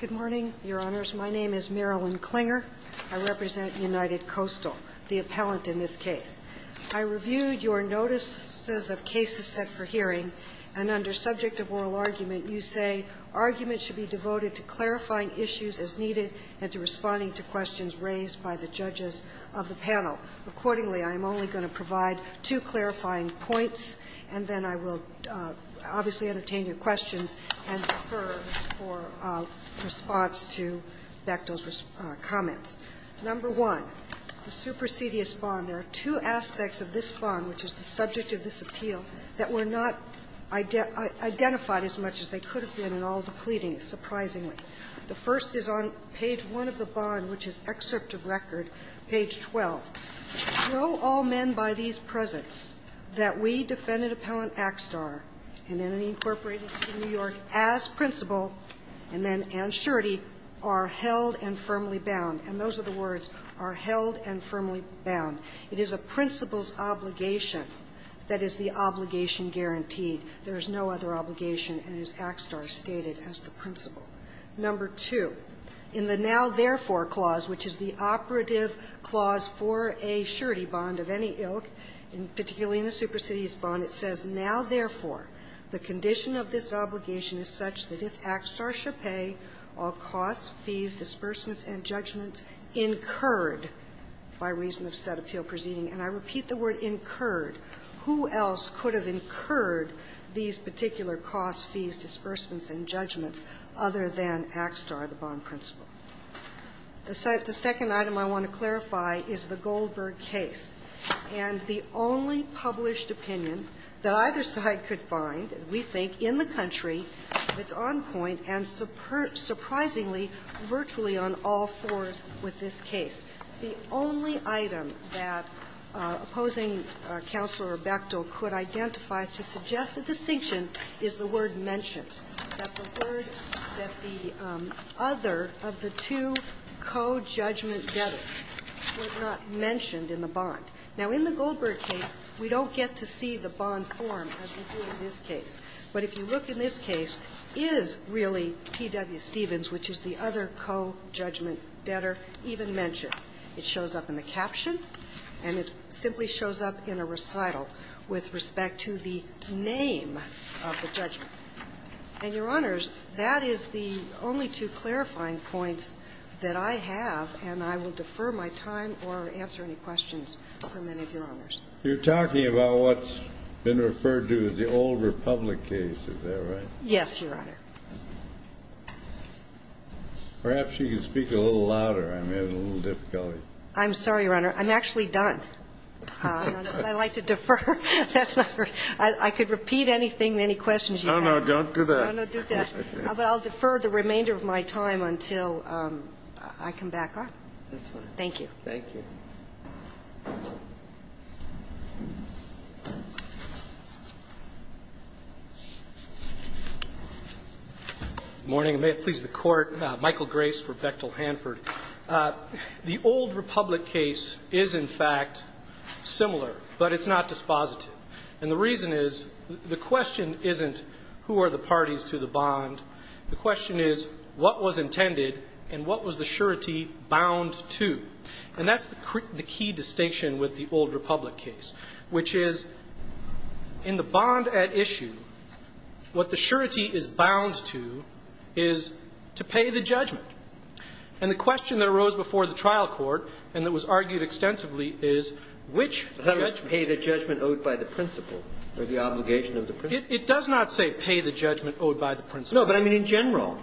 Good morning, Your Honors. My name is Marilyn Klinger. I represent United Coastal, the appellant in this case. I reviewed your notices of cases set for hearing, and under subject of oral argument, you say argument should be devoted to clarifying issues as needed and to responding to questions raised by the judges of the panel. Accordingly, I am only going to provide two clarifying points, and then I will obviously entertain your questions and defer for response to Bechtel's comments. Number one, the supersedious bond. There are two aspects of this bond, which is the subject of this appeal, that were not identified as much as they could have been in all the pleadings, surprisingly. The first is on page 1 of the bond, which is excerpt of record, page 12. Show all men by these presents that we, Defendant Appellant Axtar, and NNE Incorporated in New York, as principal, and then Ann Scherty, are held and firmly bound. And those are the words, are held and firmly bound. It is a principal's obligation. That is the obligation guaranteed. There is no other obligation, and it is Axtar stated as the principal. Number two, in the now therefore clause, which is the operative clause for a Scherty bond of any ilk, and particularly in the supersedious bond, it says, now therefore, the condition of this obligation is such that if Axtar shall pay all costs, fees, disbursements, and judgments incurred by reason of said appeal proceeding, and I repeat the word incurred, who else could have incurred these particular costs, fees, disbursements, and judgments other than Axtar, the bond principal? The second item I want to clarify is the Goldberg case. And the only published opinion that either side could find, we think, in the country, if it's on point, and surprisingly, virtually on all fours with this case. The only item that opposing Counselor Bechtel could identify to suggest a distinction is the word mentioned, that the word, that the other of the two co-judgment debtors was not mentioned in the bond. Now, in the Goldberg case, we don't get to see the bond form as we do in this case. But if you look in this case, is really P.W. Stevens, which is the other co-judgment debtor, even mentioned? It shows up in the caption, and it simply shows up in a recital with respect to the name of the judgment. And, Your Honors, that is the only two clarifying points that I have, and I will defer my time or answer any questions from any of Your Honors. You're talking about what's been referred to as the old Republic case, is that right? Yes, Your Honor. Perhaps you can speak a little louder. I'm having a little difficulty. I'm sorry, Your Honor. I'm actually done. I'd like to defer. That's not right. I could repeat anything, any questions you have. Oh, no, don't do that. No, no, do that. But I'll defer the remainder of my time until I can back up. Thank you. Thank you. Good morning. May it please the Court. Michael Grace for Bechtel Hanford. The old Republic case is, in fact, similar, but it's not dispositive. And the reason is, the question isn't who are the parties to the bond. The question is, what was intended, and what was the surety bound to? And that's the key distinction with the old Republic case, which is, in the bond at issue, what the surety is bound to is to pay the judgment. And the question that arose before the trial court, and that was argued extensively, is, which judgment? Pay the judgment owed by the principal, or the obligation of the principal. It does not say pay the judgment owed by the principal. No, but I mean in general.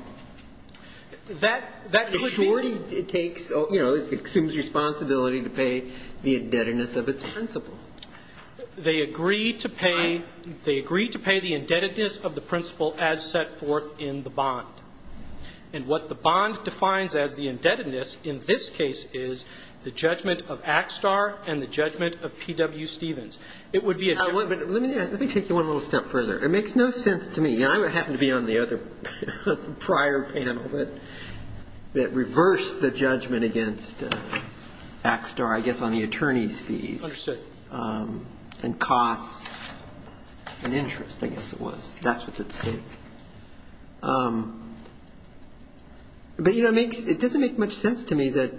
That could be. The surety assumes responsibility to pay the indebtedness of its principal. They agree to pay the indebtedness of the principal as set forth in the bond. And what the bond defines as the indebtedness, in this case, is the judgment of Axtar and the judgment of P.W. Stephens. It would be a different. Let me take you one little step further. It makes no sense to me, and I happen to be on the other prior panel, that reversed the judgment against Axtar, I guess, on the attorney's fees. Understood. And costs and interest, I guess it was. That's what it said. But, you know, it doesn't make much sense to me that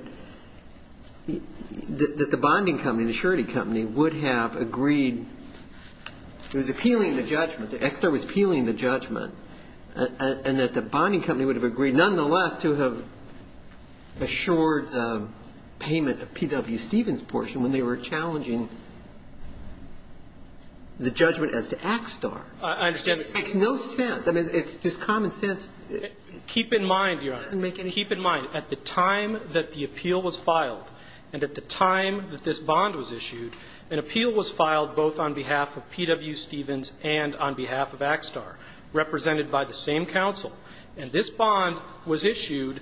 the bonding company, the surety company, would have agreed. It was appealing the judgment. Axtar was appealing the judgment. And that the bonding company would have agreed nonetheless to have assured payment of P.W. Stephens' portion when they were challenging the judgment as to Axtar. I understand. It makes no sense. I mean, it's just common sense. Keep in mind, Your Honor, keep in mind, at the time that the appeal was filed and at the time that this bond was issued, an appeal was filed both on behalf of P.W. Stephens and on behalf of Axtar, represented by the same counsel. And this bond was issued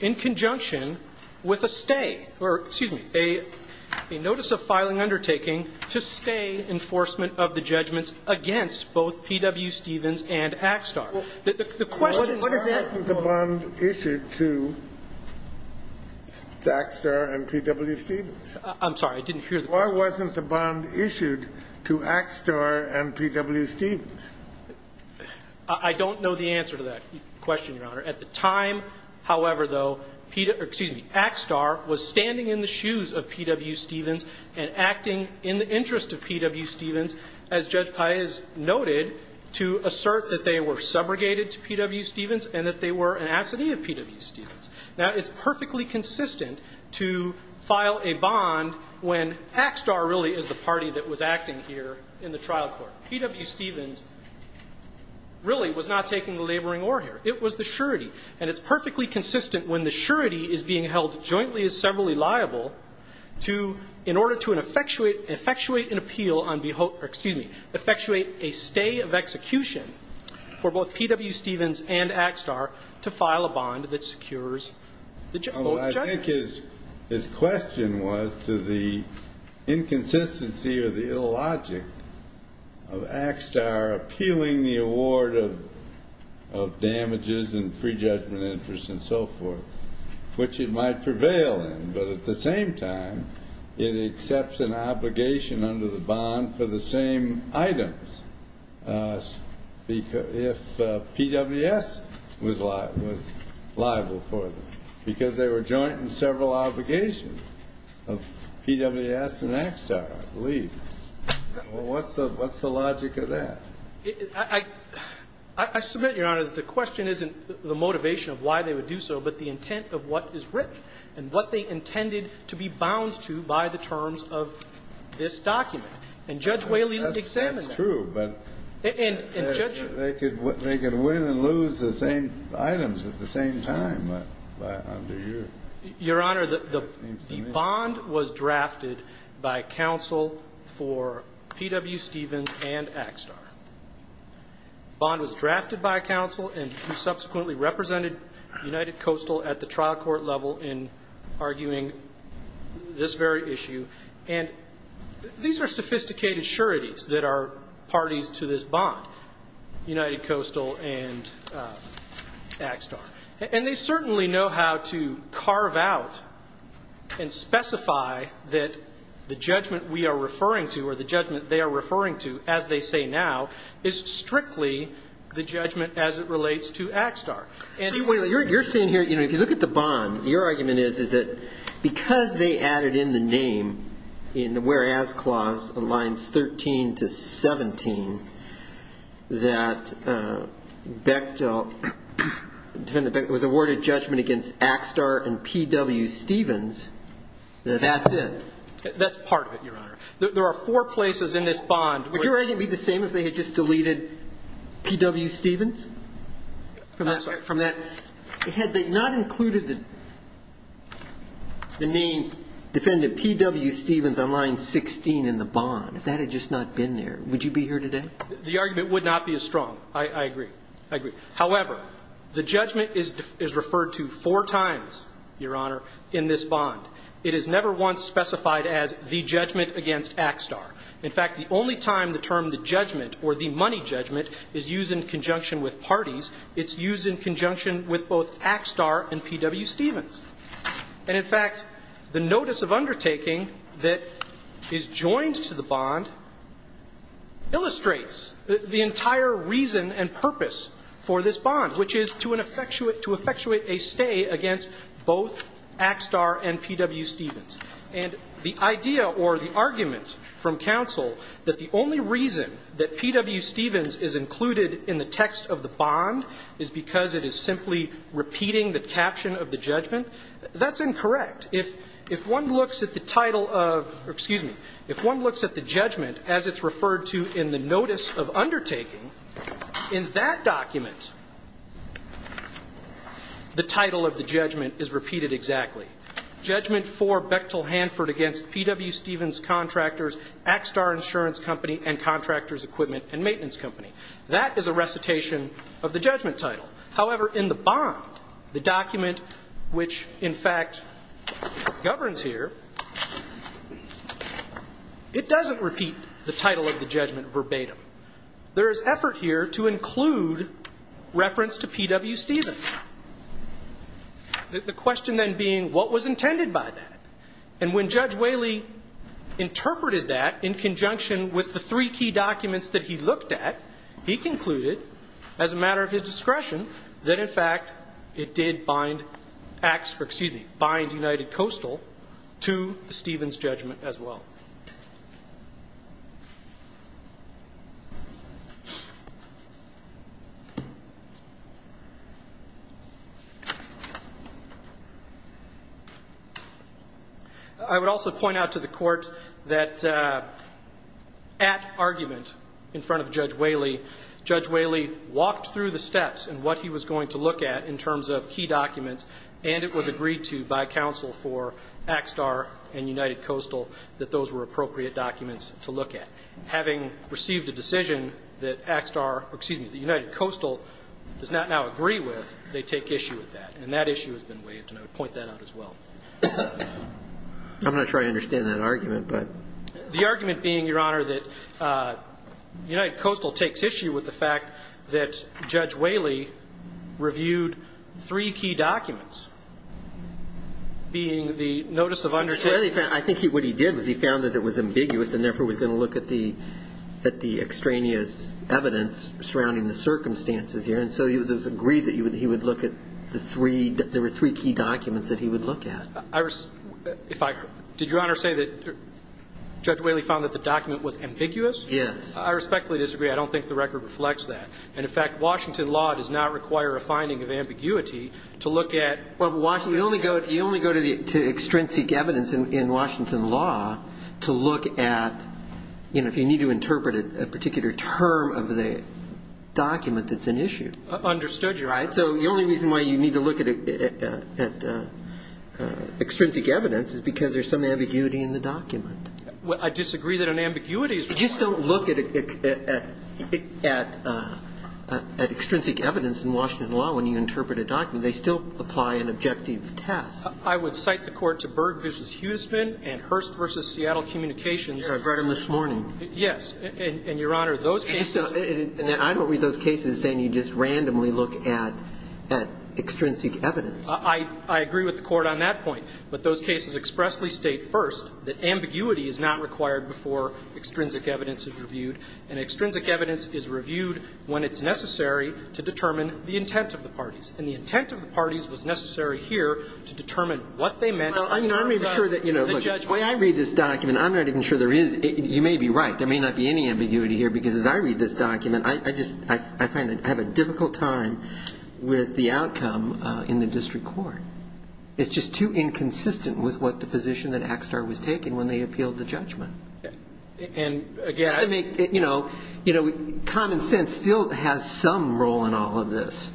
in conjunction with a stay or, excuse me, a notice of filing undertaking to stay enforcement of the judgments against both P.W. Stephens and Axtar. The question is why wasn't the bond issued to Axtar and P.W. Stephens? I'm sorry. I didn't hear the question. Why wasn't the bond issued to Axtar and P.W. Stephens? I don't know the answer to that question, Your Honor. At the time, however, though, excuse me, Axtar was standing in the shoes of P.W. Stephens and acting in the interest of P.W. Stephens, as Judge Paez noted, to assert that they were subrogated to P.W. Stephens and that they were an assidy of P.W. Stephens. Now, it's perfectly consistent to file a bond when Axtar really is the party that was acting here in the trial court. P.W. Stephens really was not taking the laboring ore here. It was the surety. And it's perfectly consistent when the surety is being held jointly as severally liable to, in order to effectuate an appeal on behalf, excuse me, effectuate a stay of execution for both P.W. Stephens and Axtar to file a bond that secures both judges. Well, I think his question was to the inconsistency or the illogic of Axtar appealing the award of damages and free judgment interest and so forth, which it might prevail in, but at the same time, it accepts an obligation under the bond for the same items if P.W.S. was liable for them, because they were joint in several obligations of P.W.S. and Axtar, I believe. What's the logic of that? I submit, Your Honor, that the question isn't the motivation of why they would do so, but the intent of what is written and what they intended to be bound to by the terms of this document. And Judge Whaley examined that. That's true, but they could win and lose the same items at the same time under you. Your Honor, the bond was drafted by counsel for P.W. Stephens and Axtar. The bond was drafted by counsel and subsequently represented United Coastal at the trial court level in arguing this very issue. And these are sophisticated sureties that are parties to this bond, United Coastal and Axtar. And they certainly know how to carve out and specify that the judgment we are referring to, or the judgment they are referring to, as they say now, is strictly the judgment as it relates to Axtar. See, Whaley, you're saying here, you know, if you look at the bond, your argument is, is that because they added in the name in the whereas clause, lines 13 to 17, that Bechtel, Defendant Bechtel, was awarded judgment against Axtar and P.W. Stephens, that that's it. That's part of it, Your Honor. There are four places in this bond. Would your argument be the same if they had just deleted P.W. Stephens? I'm sorry. From that? Had they not included the name Defendant P.W. Stephens on line 16 in the bond, if that had just not been there, would you be here today? The argument would not be as strong. I agree. I agree. However, the judgment is referred to four times, Your Honor, in this bond. It is never once specified as the judgment against Axtar. In fact, the only time the term the judgment or the money judgment is used in conjunction with parties, it's used in conjunction with both Axtar and P.W. Stephens. And in fact, the notice of undertaking that is joined to the bond illustrates the entire reason and purpose for this bond, which is to an effectuate, to effectuate a stay against both Axtar and P.W. Stephens. And the idea or the argument from counsel that the only reason that P.W. Stephens is included in the text of the bond is because it is simply repeating the caption of the judgment, that's incorrect. If one looks at the title of, excuse me, if one looks at the judgment as it's referred to in the notice of undertaking, in that document, the title of the judgment is repeated exactly. Judgment for Bechtel Hanford against P.W. Stephens Contractors, Axtar Insurance Company, and Contractors Equipment and Maintenance Company. That is a recitation of the judgment title. However, in the bond, the document which, in fact, governs here, it doesn't repeat the title of the judgment verbatim. There is effort here to include reference to P.W. Stephens. The question then being, what was intended by that? And when Judge Whaley interpreted that in conjunction with the three key documents that he looked at, he concluded, as a matter of his discretion, that in fact, it did bind Axtar, excuse me, bind United Coastal to the Stephens judgment as well. I would also point out to the court that at argument in front of Judge Whaley, Judge Whaley walked through the steps and what he was going to look at in terms of key documents, and it was agreed to by counsel for Axtar and United Coastal that those were appropriate documents to look at. Having received a decision that Axtar, excuse me, that United Coastal does not now agree with, they take issue with that. And that issue has been waived, and I would point that out as well. I'm not sure I understand that argument, but. The argument being, Your Honor, that United Coastal takes issue with the fact that Judge Whaley reviewed three key documents, being the notice of understanding. I think what he did was he found that it was ambiguous and therefore was going to look at the extraneous evidence surrounding the circumstances here. And so it was agreed that he would look at the three, there were three key documents that he would look at. Did Your Honor say that Judge Whaley found that the document was ambiguous? Yes. I respectfully disagree. I don't think the record reflects that. And in fact, Washington law does not require a finding of ambiguity to look at. Well, Washington, you only go to extrinsic evidence in Washington law to look at, you know, if you need to interpret a particular term of the document that's an issue. Understood, Your Honor. Right? So the only reason why you need to look at extrinsic evidence is because there's some ambiguity in the document. I disagree that an ambiguity is required. You just don't look at extrinsic evidence in Washington law when you interpret a document. And they still apply an objective test. I would cite the Court to Berg v. Huisman and Hurst v. Seattle Communications. I read them this morning. Yes. And, Your Honor, those cases. I don't read those cases saying you just randomly look at extrinsic evidence. I agree with the Court on that point. But those cases expressly state first that ambiguity is not required before extrinsic evidence is reviewed, and extrinsic evidence is reviewed when it's necessary to determine the intent of the parties. And the intent of the parties was necessary here to determine what they meant in terms of the judgment. I'm not even sure that, you know, look, the way I read this document, I'm not even sure there is. You may be right. There may not be any ambiguity here, because as I read this document, I just, I find I have a difficult time with the outcome in the district court. It's just too inconsistent with what the position that Axtar was taking when they appealed the judgment. And, again, I mean, you know, common sense still has some role in all of this.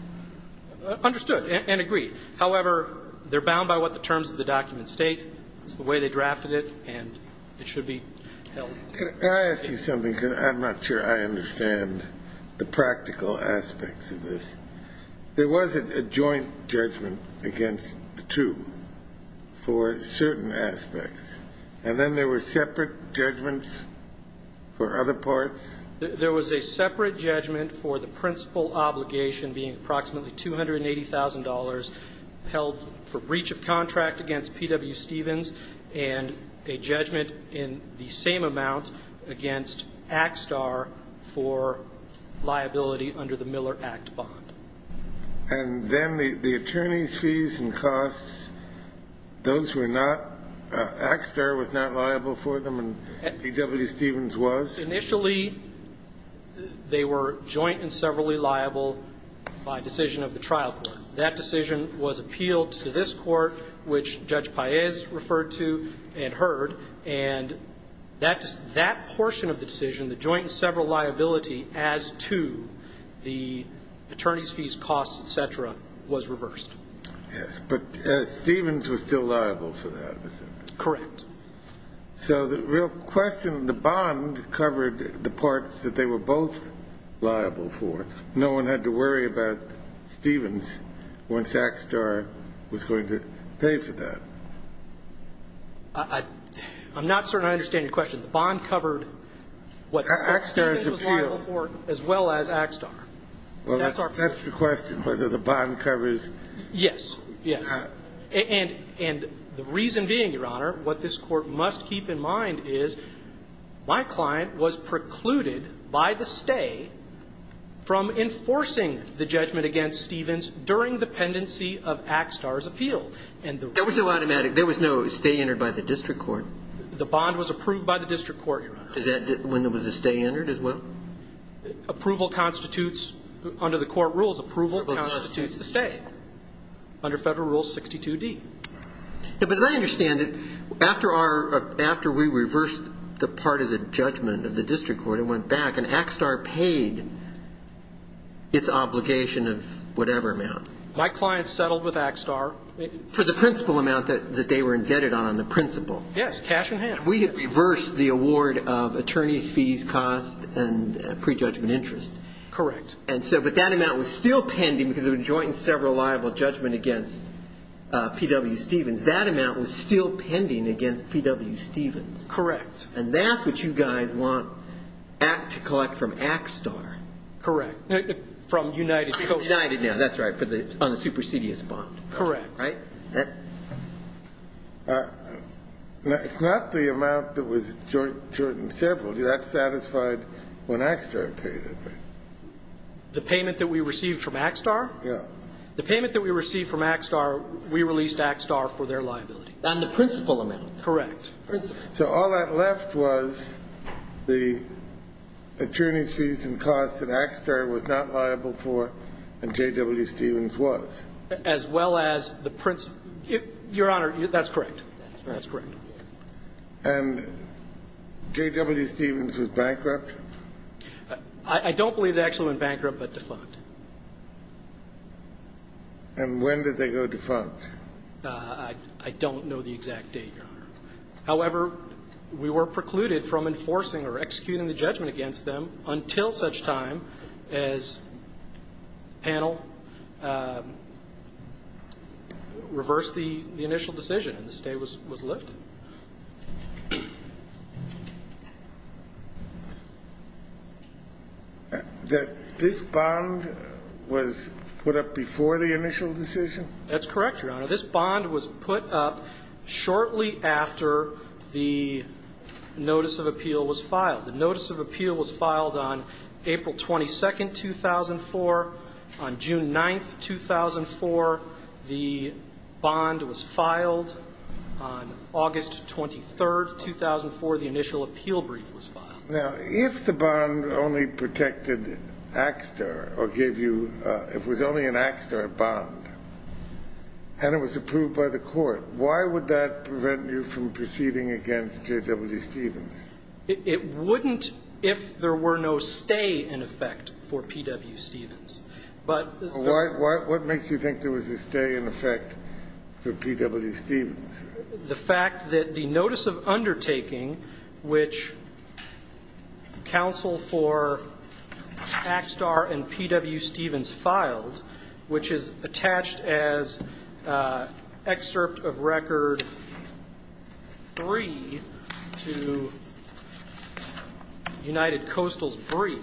Understood and agreed. However, they're bound by what the terms of the document state. It's the way they drafted it, and it should be held. Can I ask you something? Because I'm not sure I understand the practical aspects of this. There was a joint judgment against the two for certain aspects, and then there were separate judgments for other parts? There was a separate judgment for the principal obligation being approximately $280,000 held for breach of contract against P.W. Stevens and a judgment in the same amount against Axtar for liability under the Miller Act bond. And then the attorney's fees and costs, those were not, Axtar was not liable for them and P.W. Stevens was? Initially, they were joint and severally liable by decision of the trial court. That decision was appealed to this court, which Judge Paez referred to and heard. And that portion of the decision, the joint and several liability as to the attorney's fees, costs, et cetera, was reversed. Yes, but Stevens was still liable for that. Correct. So the real question, the bond covered the parts that they were both liable for. No one had to worry about Stevens once Axtar was going to pay for that. I'm not certain I understand your question. The bond covered what Stevens was liable for as well as Axtar. Well, that's the question, whether the bond covers. Yes, yes. And the reason being, Your Honor, what this court must keep in mind is my client was precluded by the stay from enforcing the judgment against Stevens during the pendency of Axtar's appeal. There was no stay entered by the district court? The bond was approved by the district court, Your Honor. When there was a stay entered as well? Approval constitutes, under the court rules, approval constitutes the stay. Under Federal Rule 62D. But as I understand it, after we reversed the part of the judgment of the district court, it went back, and Axtar paid its obligation of whatever amount. My client settled with Axtar. For the principal amount that they were indebted on, the principal. Yes, cash in hand. We had reversed the award of attorney's fees, costs, and prejudgment interest. Correct. But that amount was still pending because of a joint and several liable judgment against P.W. Stevens. That amount was still pending against P.W. Stevens. Correct. And that's what you guys want to collect from Axtar. Correct. From United Coast. United, that's right, on the supersedious bond. Correct. Right? It's not the amount that was joint and several. That's satisfied when Axtar paid it. The payment that we received from Axtar? Yeah. The payment that we received from Axtar, we released Axtar for their liability. On the principal amount. Correct. Principal. So all that left was the attorney's fees and costs that Axtar was not liable for and J.W. Stevens was. As well as the principal. Your Honor, that's correct. That's correct. And J.W. Stevens was bankrupt? I don't believe they actually went bankrupt but defunct. And when did they go defunct? I don't know the exact date, Your Honor. However, we were precluded from enforcing or executing the judgment against them until such time as panel reversed the initial decision and the stay was lifted. That this bond was put up before the initial decision? That's correct, Your Honor. This bond was put up shortly after the notice of appeal was filed. The notice of appeal was filed on April 22, 2004. On June 9, 2004, the bond was filed. On August 23, 2004, the initial appeal brief was filed. Now, if the bond only protected Axtar or gave you, if it was only an Axtar bond and it was approved by the court, why would that prevent you from proceeding against J.W. Stevens? It wouldn't if there were no stay in effect for P.W. Stevens. But the fact that the notice of undertaking which counsel for Axtar and P.W. Stevens United Coastals brief,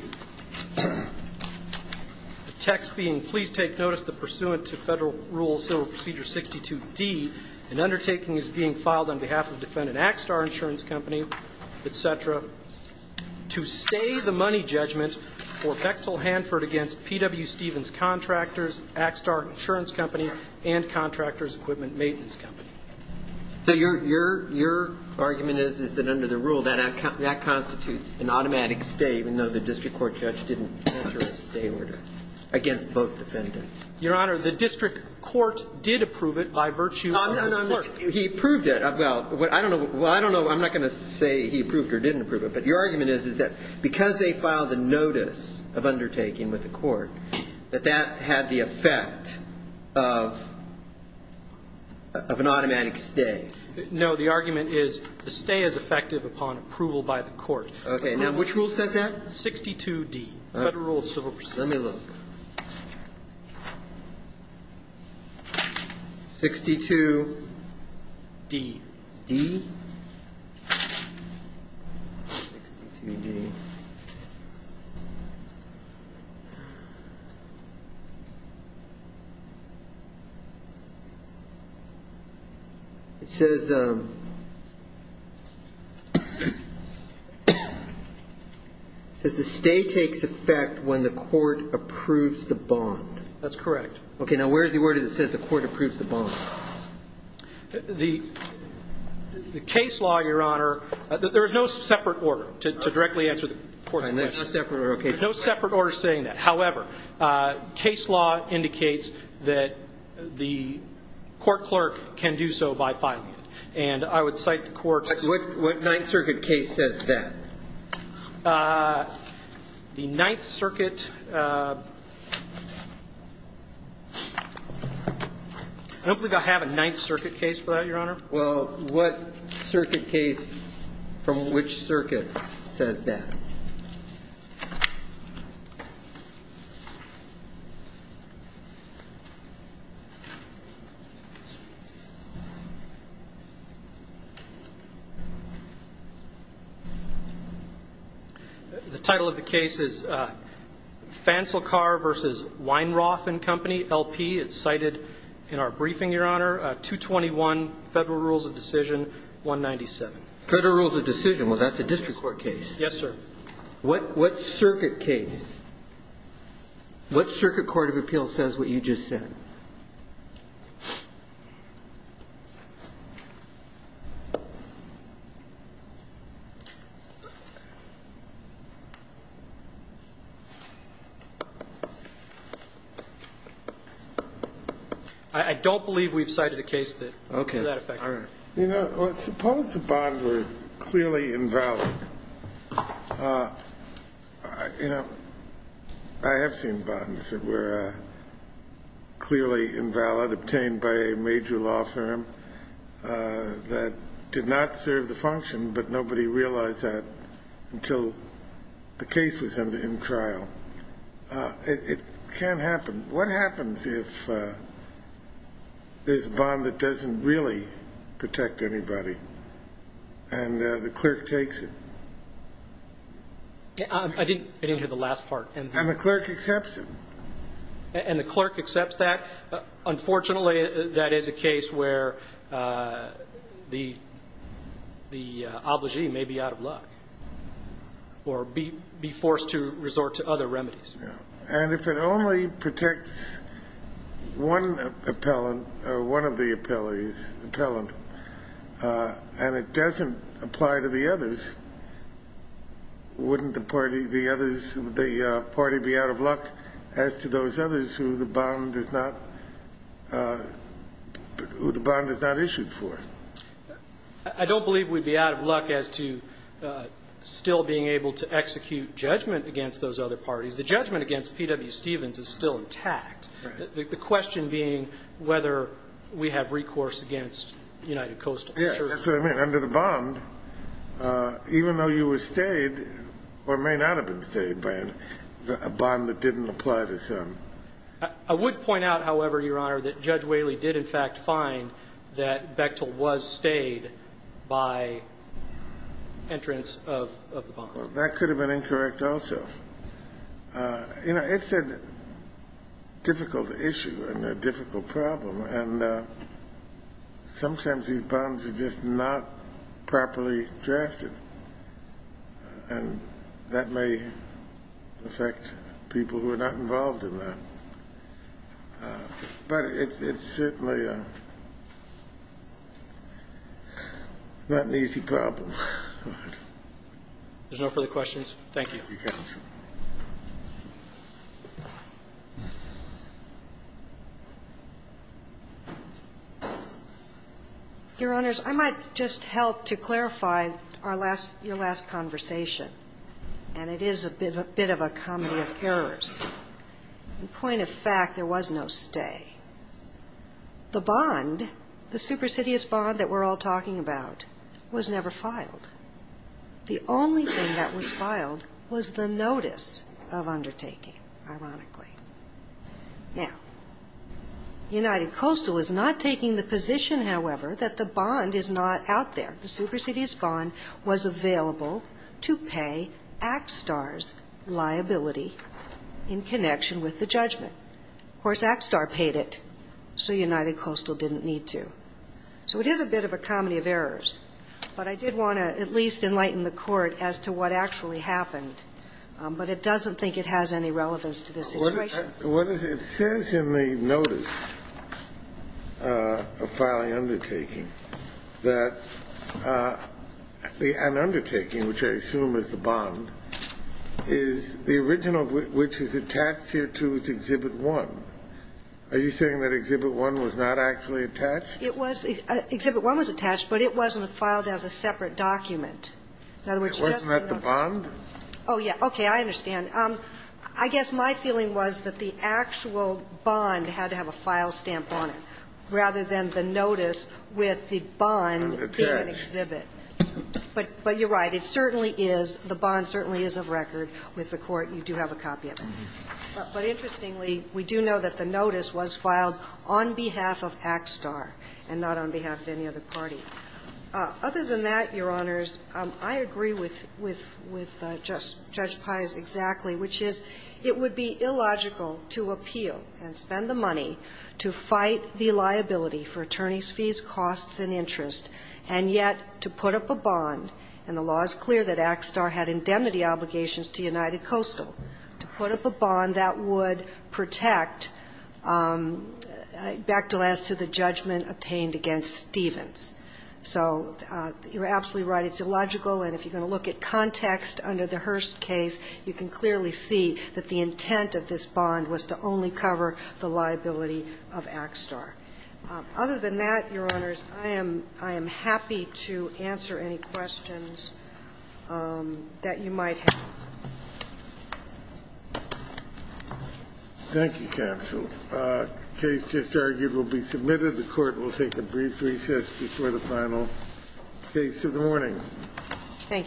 the text being, Please take notice that pursuant to Federal Rule Civil Procedure 62D, an undertaking is being filed on behalf of defendant Axtar Insurance Company, et cetera, to stay the money judgment for Bechtel Hanford against P.W. Stevens Contractors, Axtar Insurance Company, and Contractors Equipment Maintenance Company. So your argument is, is that under the rule, that constitutes an automatic stay, even though the district court judge didn't enter a stay order against both defendants. Your Honor, the district court did approve it by virtue of the court. He approved it. Well, I don't know. I'm not going to say he approved or didn't approve it. But your argument is, is that because they filed a notice of undertaking with the court, that that had the effect of an automatic stay? No. The argument is the stay is effective upon approval by the court. Okay. Now, which rule says that? 62D, Federal Rule of Civil Procedure. Let me look. 62D. D? 62D. It says the stay takes effect when the court approves the bond. That's correct. Okay. Now, where is the word that says the court approves the bond? The case law, Your Honor, there is no separate order to directly answer the court's question. There's no separate order. There's no separate order saying that. However, case law indicates that the court clerk can do so by filing it. And I would cite the court's ---- What Ninth Circuit case says that? The Ninth Circuit ---- I don't think I have a Ninth Circuit case for that, Your Honor. Well, what circuit case from which circuit says that? The title of the case is Fancelcar v. Weinroth and Company, LP. It's cited in our briefing, Your Honor. 221, Federal Rules of Decision, 197. Federal Rules of Decision. Well, that's a district court case. Yes, sir. What circuit case? What circuit court of appeals says what you just said? I don't believe we've cited a case that would do that effect. All right. You know, suppose the bond were clearly invalid. You know, I have seen bonds that were clearly invalid. I have seen bonds that were clearly invalid. Obtained by a major law firm that did not serve the function, but nobody realized that until the case was in trial. It can't happen. What happens if there's a bond that doesn't really protect anybody and the clerk takes it? I didn't hear the last part. And the clerk accepts it. And the clerk accepts that? Unfortunately, that is a case where the obligee may be out of luck or be forced to resort to other remedies. And if it only protects one appellant or one of the appellees, appellant, and it doesn't apply to the others, wouldn't the party be out of luck as to those others who the bond is not issued for? I don't believe we'd be out of luck as to still being able to execute judgment against those other parties. The judgment against P.W. Stevens is still intact. The question being whether we have recourse against United Coastal. Yes, that's what I mean. Under the bond, even though you were stayed or may not have been stayed by a bond that didn't apply to some. I would point out, however, Your Honor, that Judge Whaley did in fact find that Bechtel was stayed by entrance of the bond. Well, that could have been incorrect also. You know, it's a difficult issue and a difficult problem. And sometimes these bonds are just not properly drafted, and that may affect people who are not involved in that. But it's certainly not an easy problem. If there's no further questions, thank you. Thank you, counsel. Your Honors, I might just help to clarify our last – your last conversation, and it is a bit of a comedy of errors. In point of fact, there was no stay. The bond, the superstitious bond that we're all talking about, was never filed. The only thing that was filed was the notice of undertaking, ironically. Now, United Coastal is not taking the position, however, that the bond is not out there. The superstitious bond was available to pay ACSTAR's liability in connection with the judgment. Of course, ACSTAR paid it, so United Coastal didn't need to. So it is a bit of a comedy of errors. But I did want to at least enlighten the Court as to what actually happened. But it doesn't think it has any relevance to this situation. What is it? It says in the notice of filing undertaking that an undertaking, which I assume is the bond, is the original which is attached here to Exhibit 1. Are you saying that Exhibit 1 was not actually attached? It was. Exhibit 1 was attached, but it wasn't filed as a separate document. In other words, it's just the notice. Wasn't that the bond? Oh, yeah. Okay. I understand. I guess my feeling was that the actual bond had to have a file stamp on it rather than the notice with the bond being an exhibit. But you're right. It certainly is. The bond certainly is of record with the Court. You do have a copy of it. But interestingly, we do know that the notice was filed on behalf of AXSTAR and not on behalf of any other party. Other than that, Your Honors, I agree with Judge Pius exactly, which is it would be illogical to appeal and spend the money to fight the liability for attorneys' fees, costs, and interest, and yet to put up a bond. And the law is clear that AXSTAR had indemnity obligations to United Coastal. To put up a bond, that would protect, back to last, to the judgment obtained against Stevens. So you're absolutely right. It's illogical. And if you're going to look at context under the Hearst case, you can clearly see that the intent of this bond was to only cover the liability of AXSTAR. Other than that, Your Honors, I am happy to answer any questions that you might have. Thank you. Thank you, counsel. The case just argued will be submitted. The Court will take a brief recess before the final case of the morning. Thank you.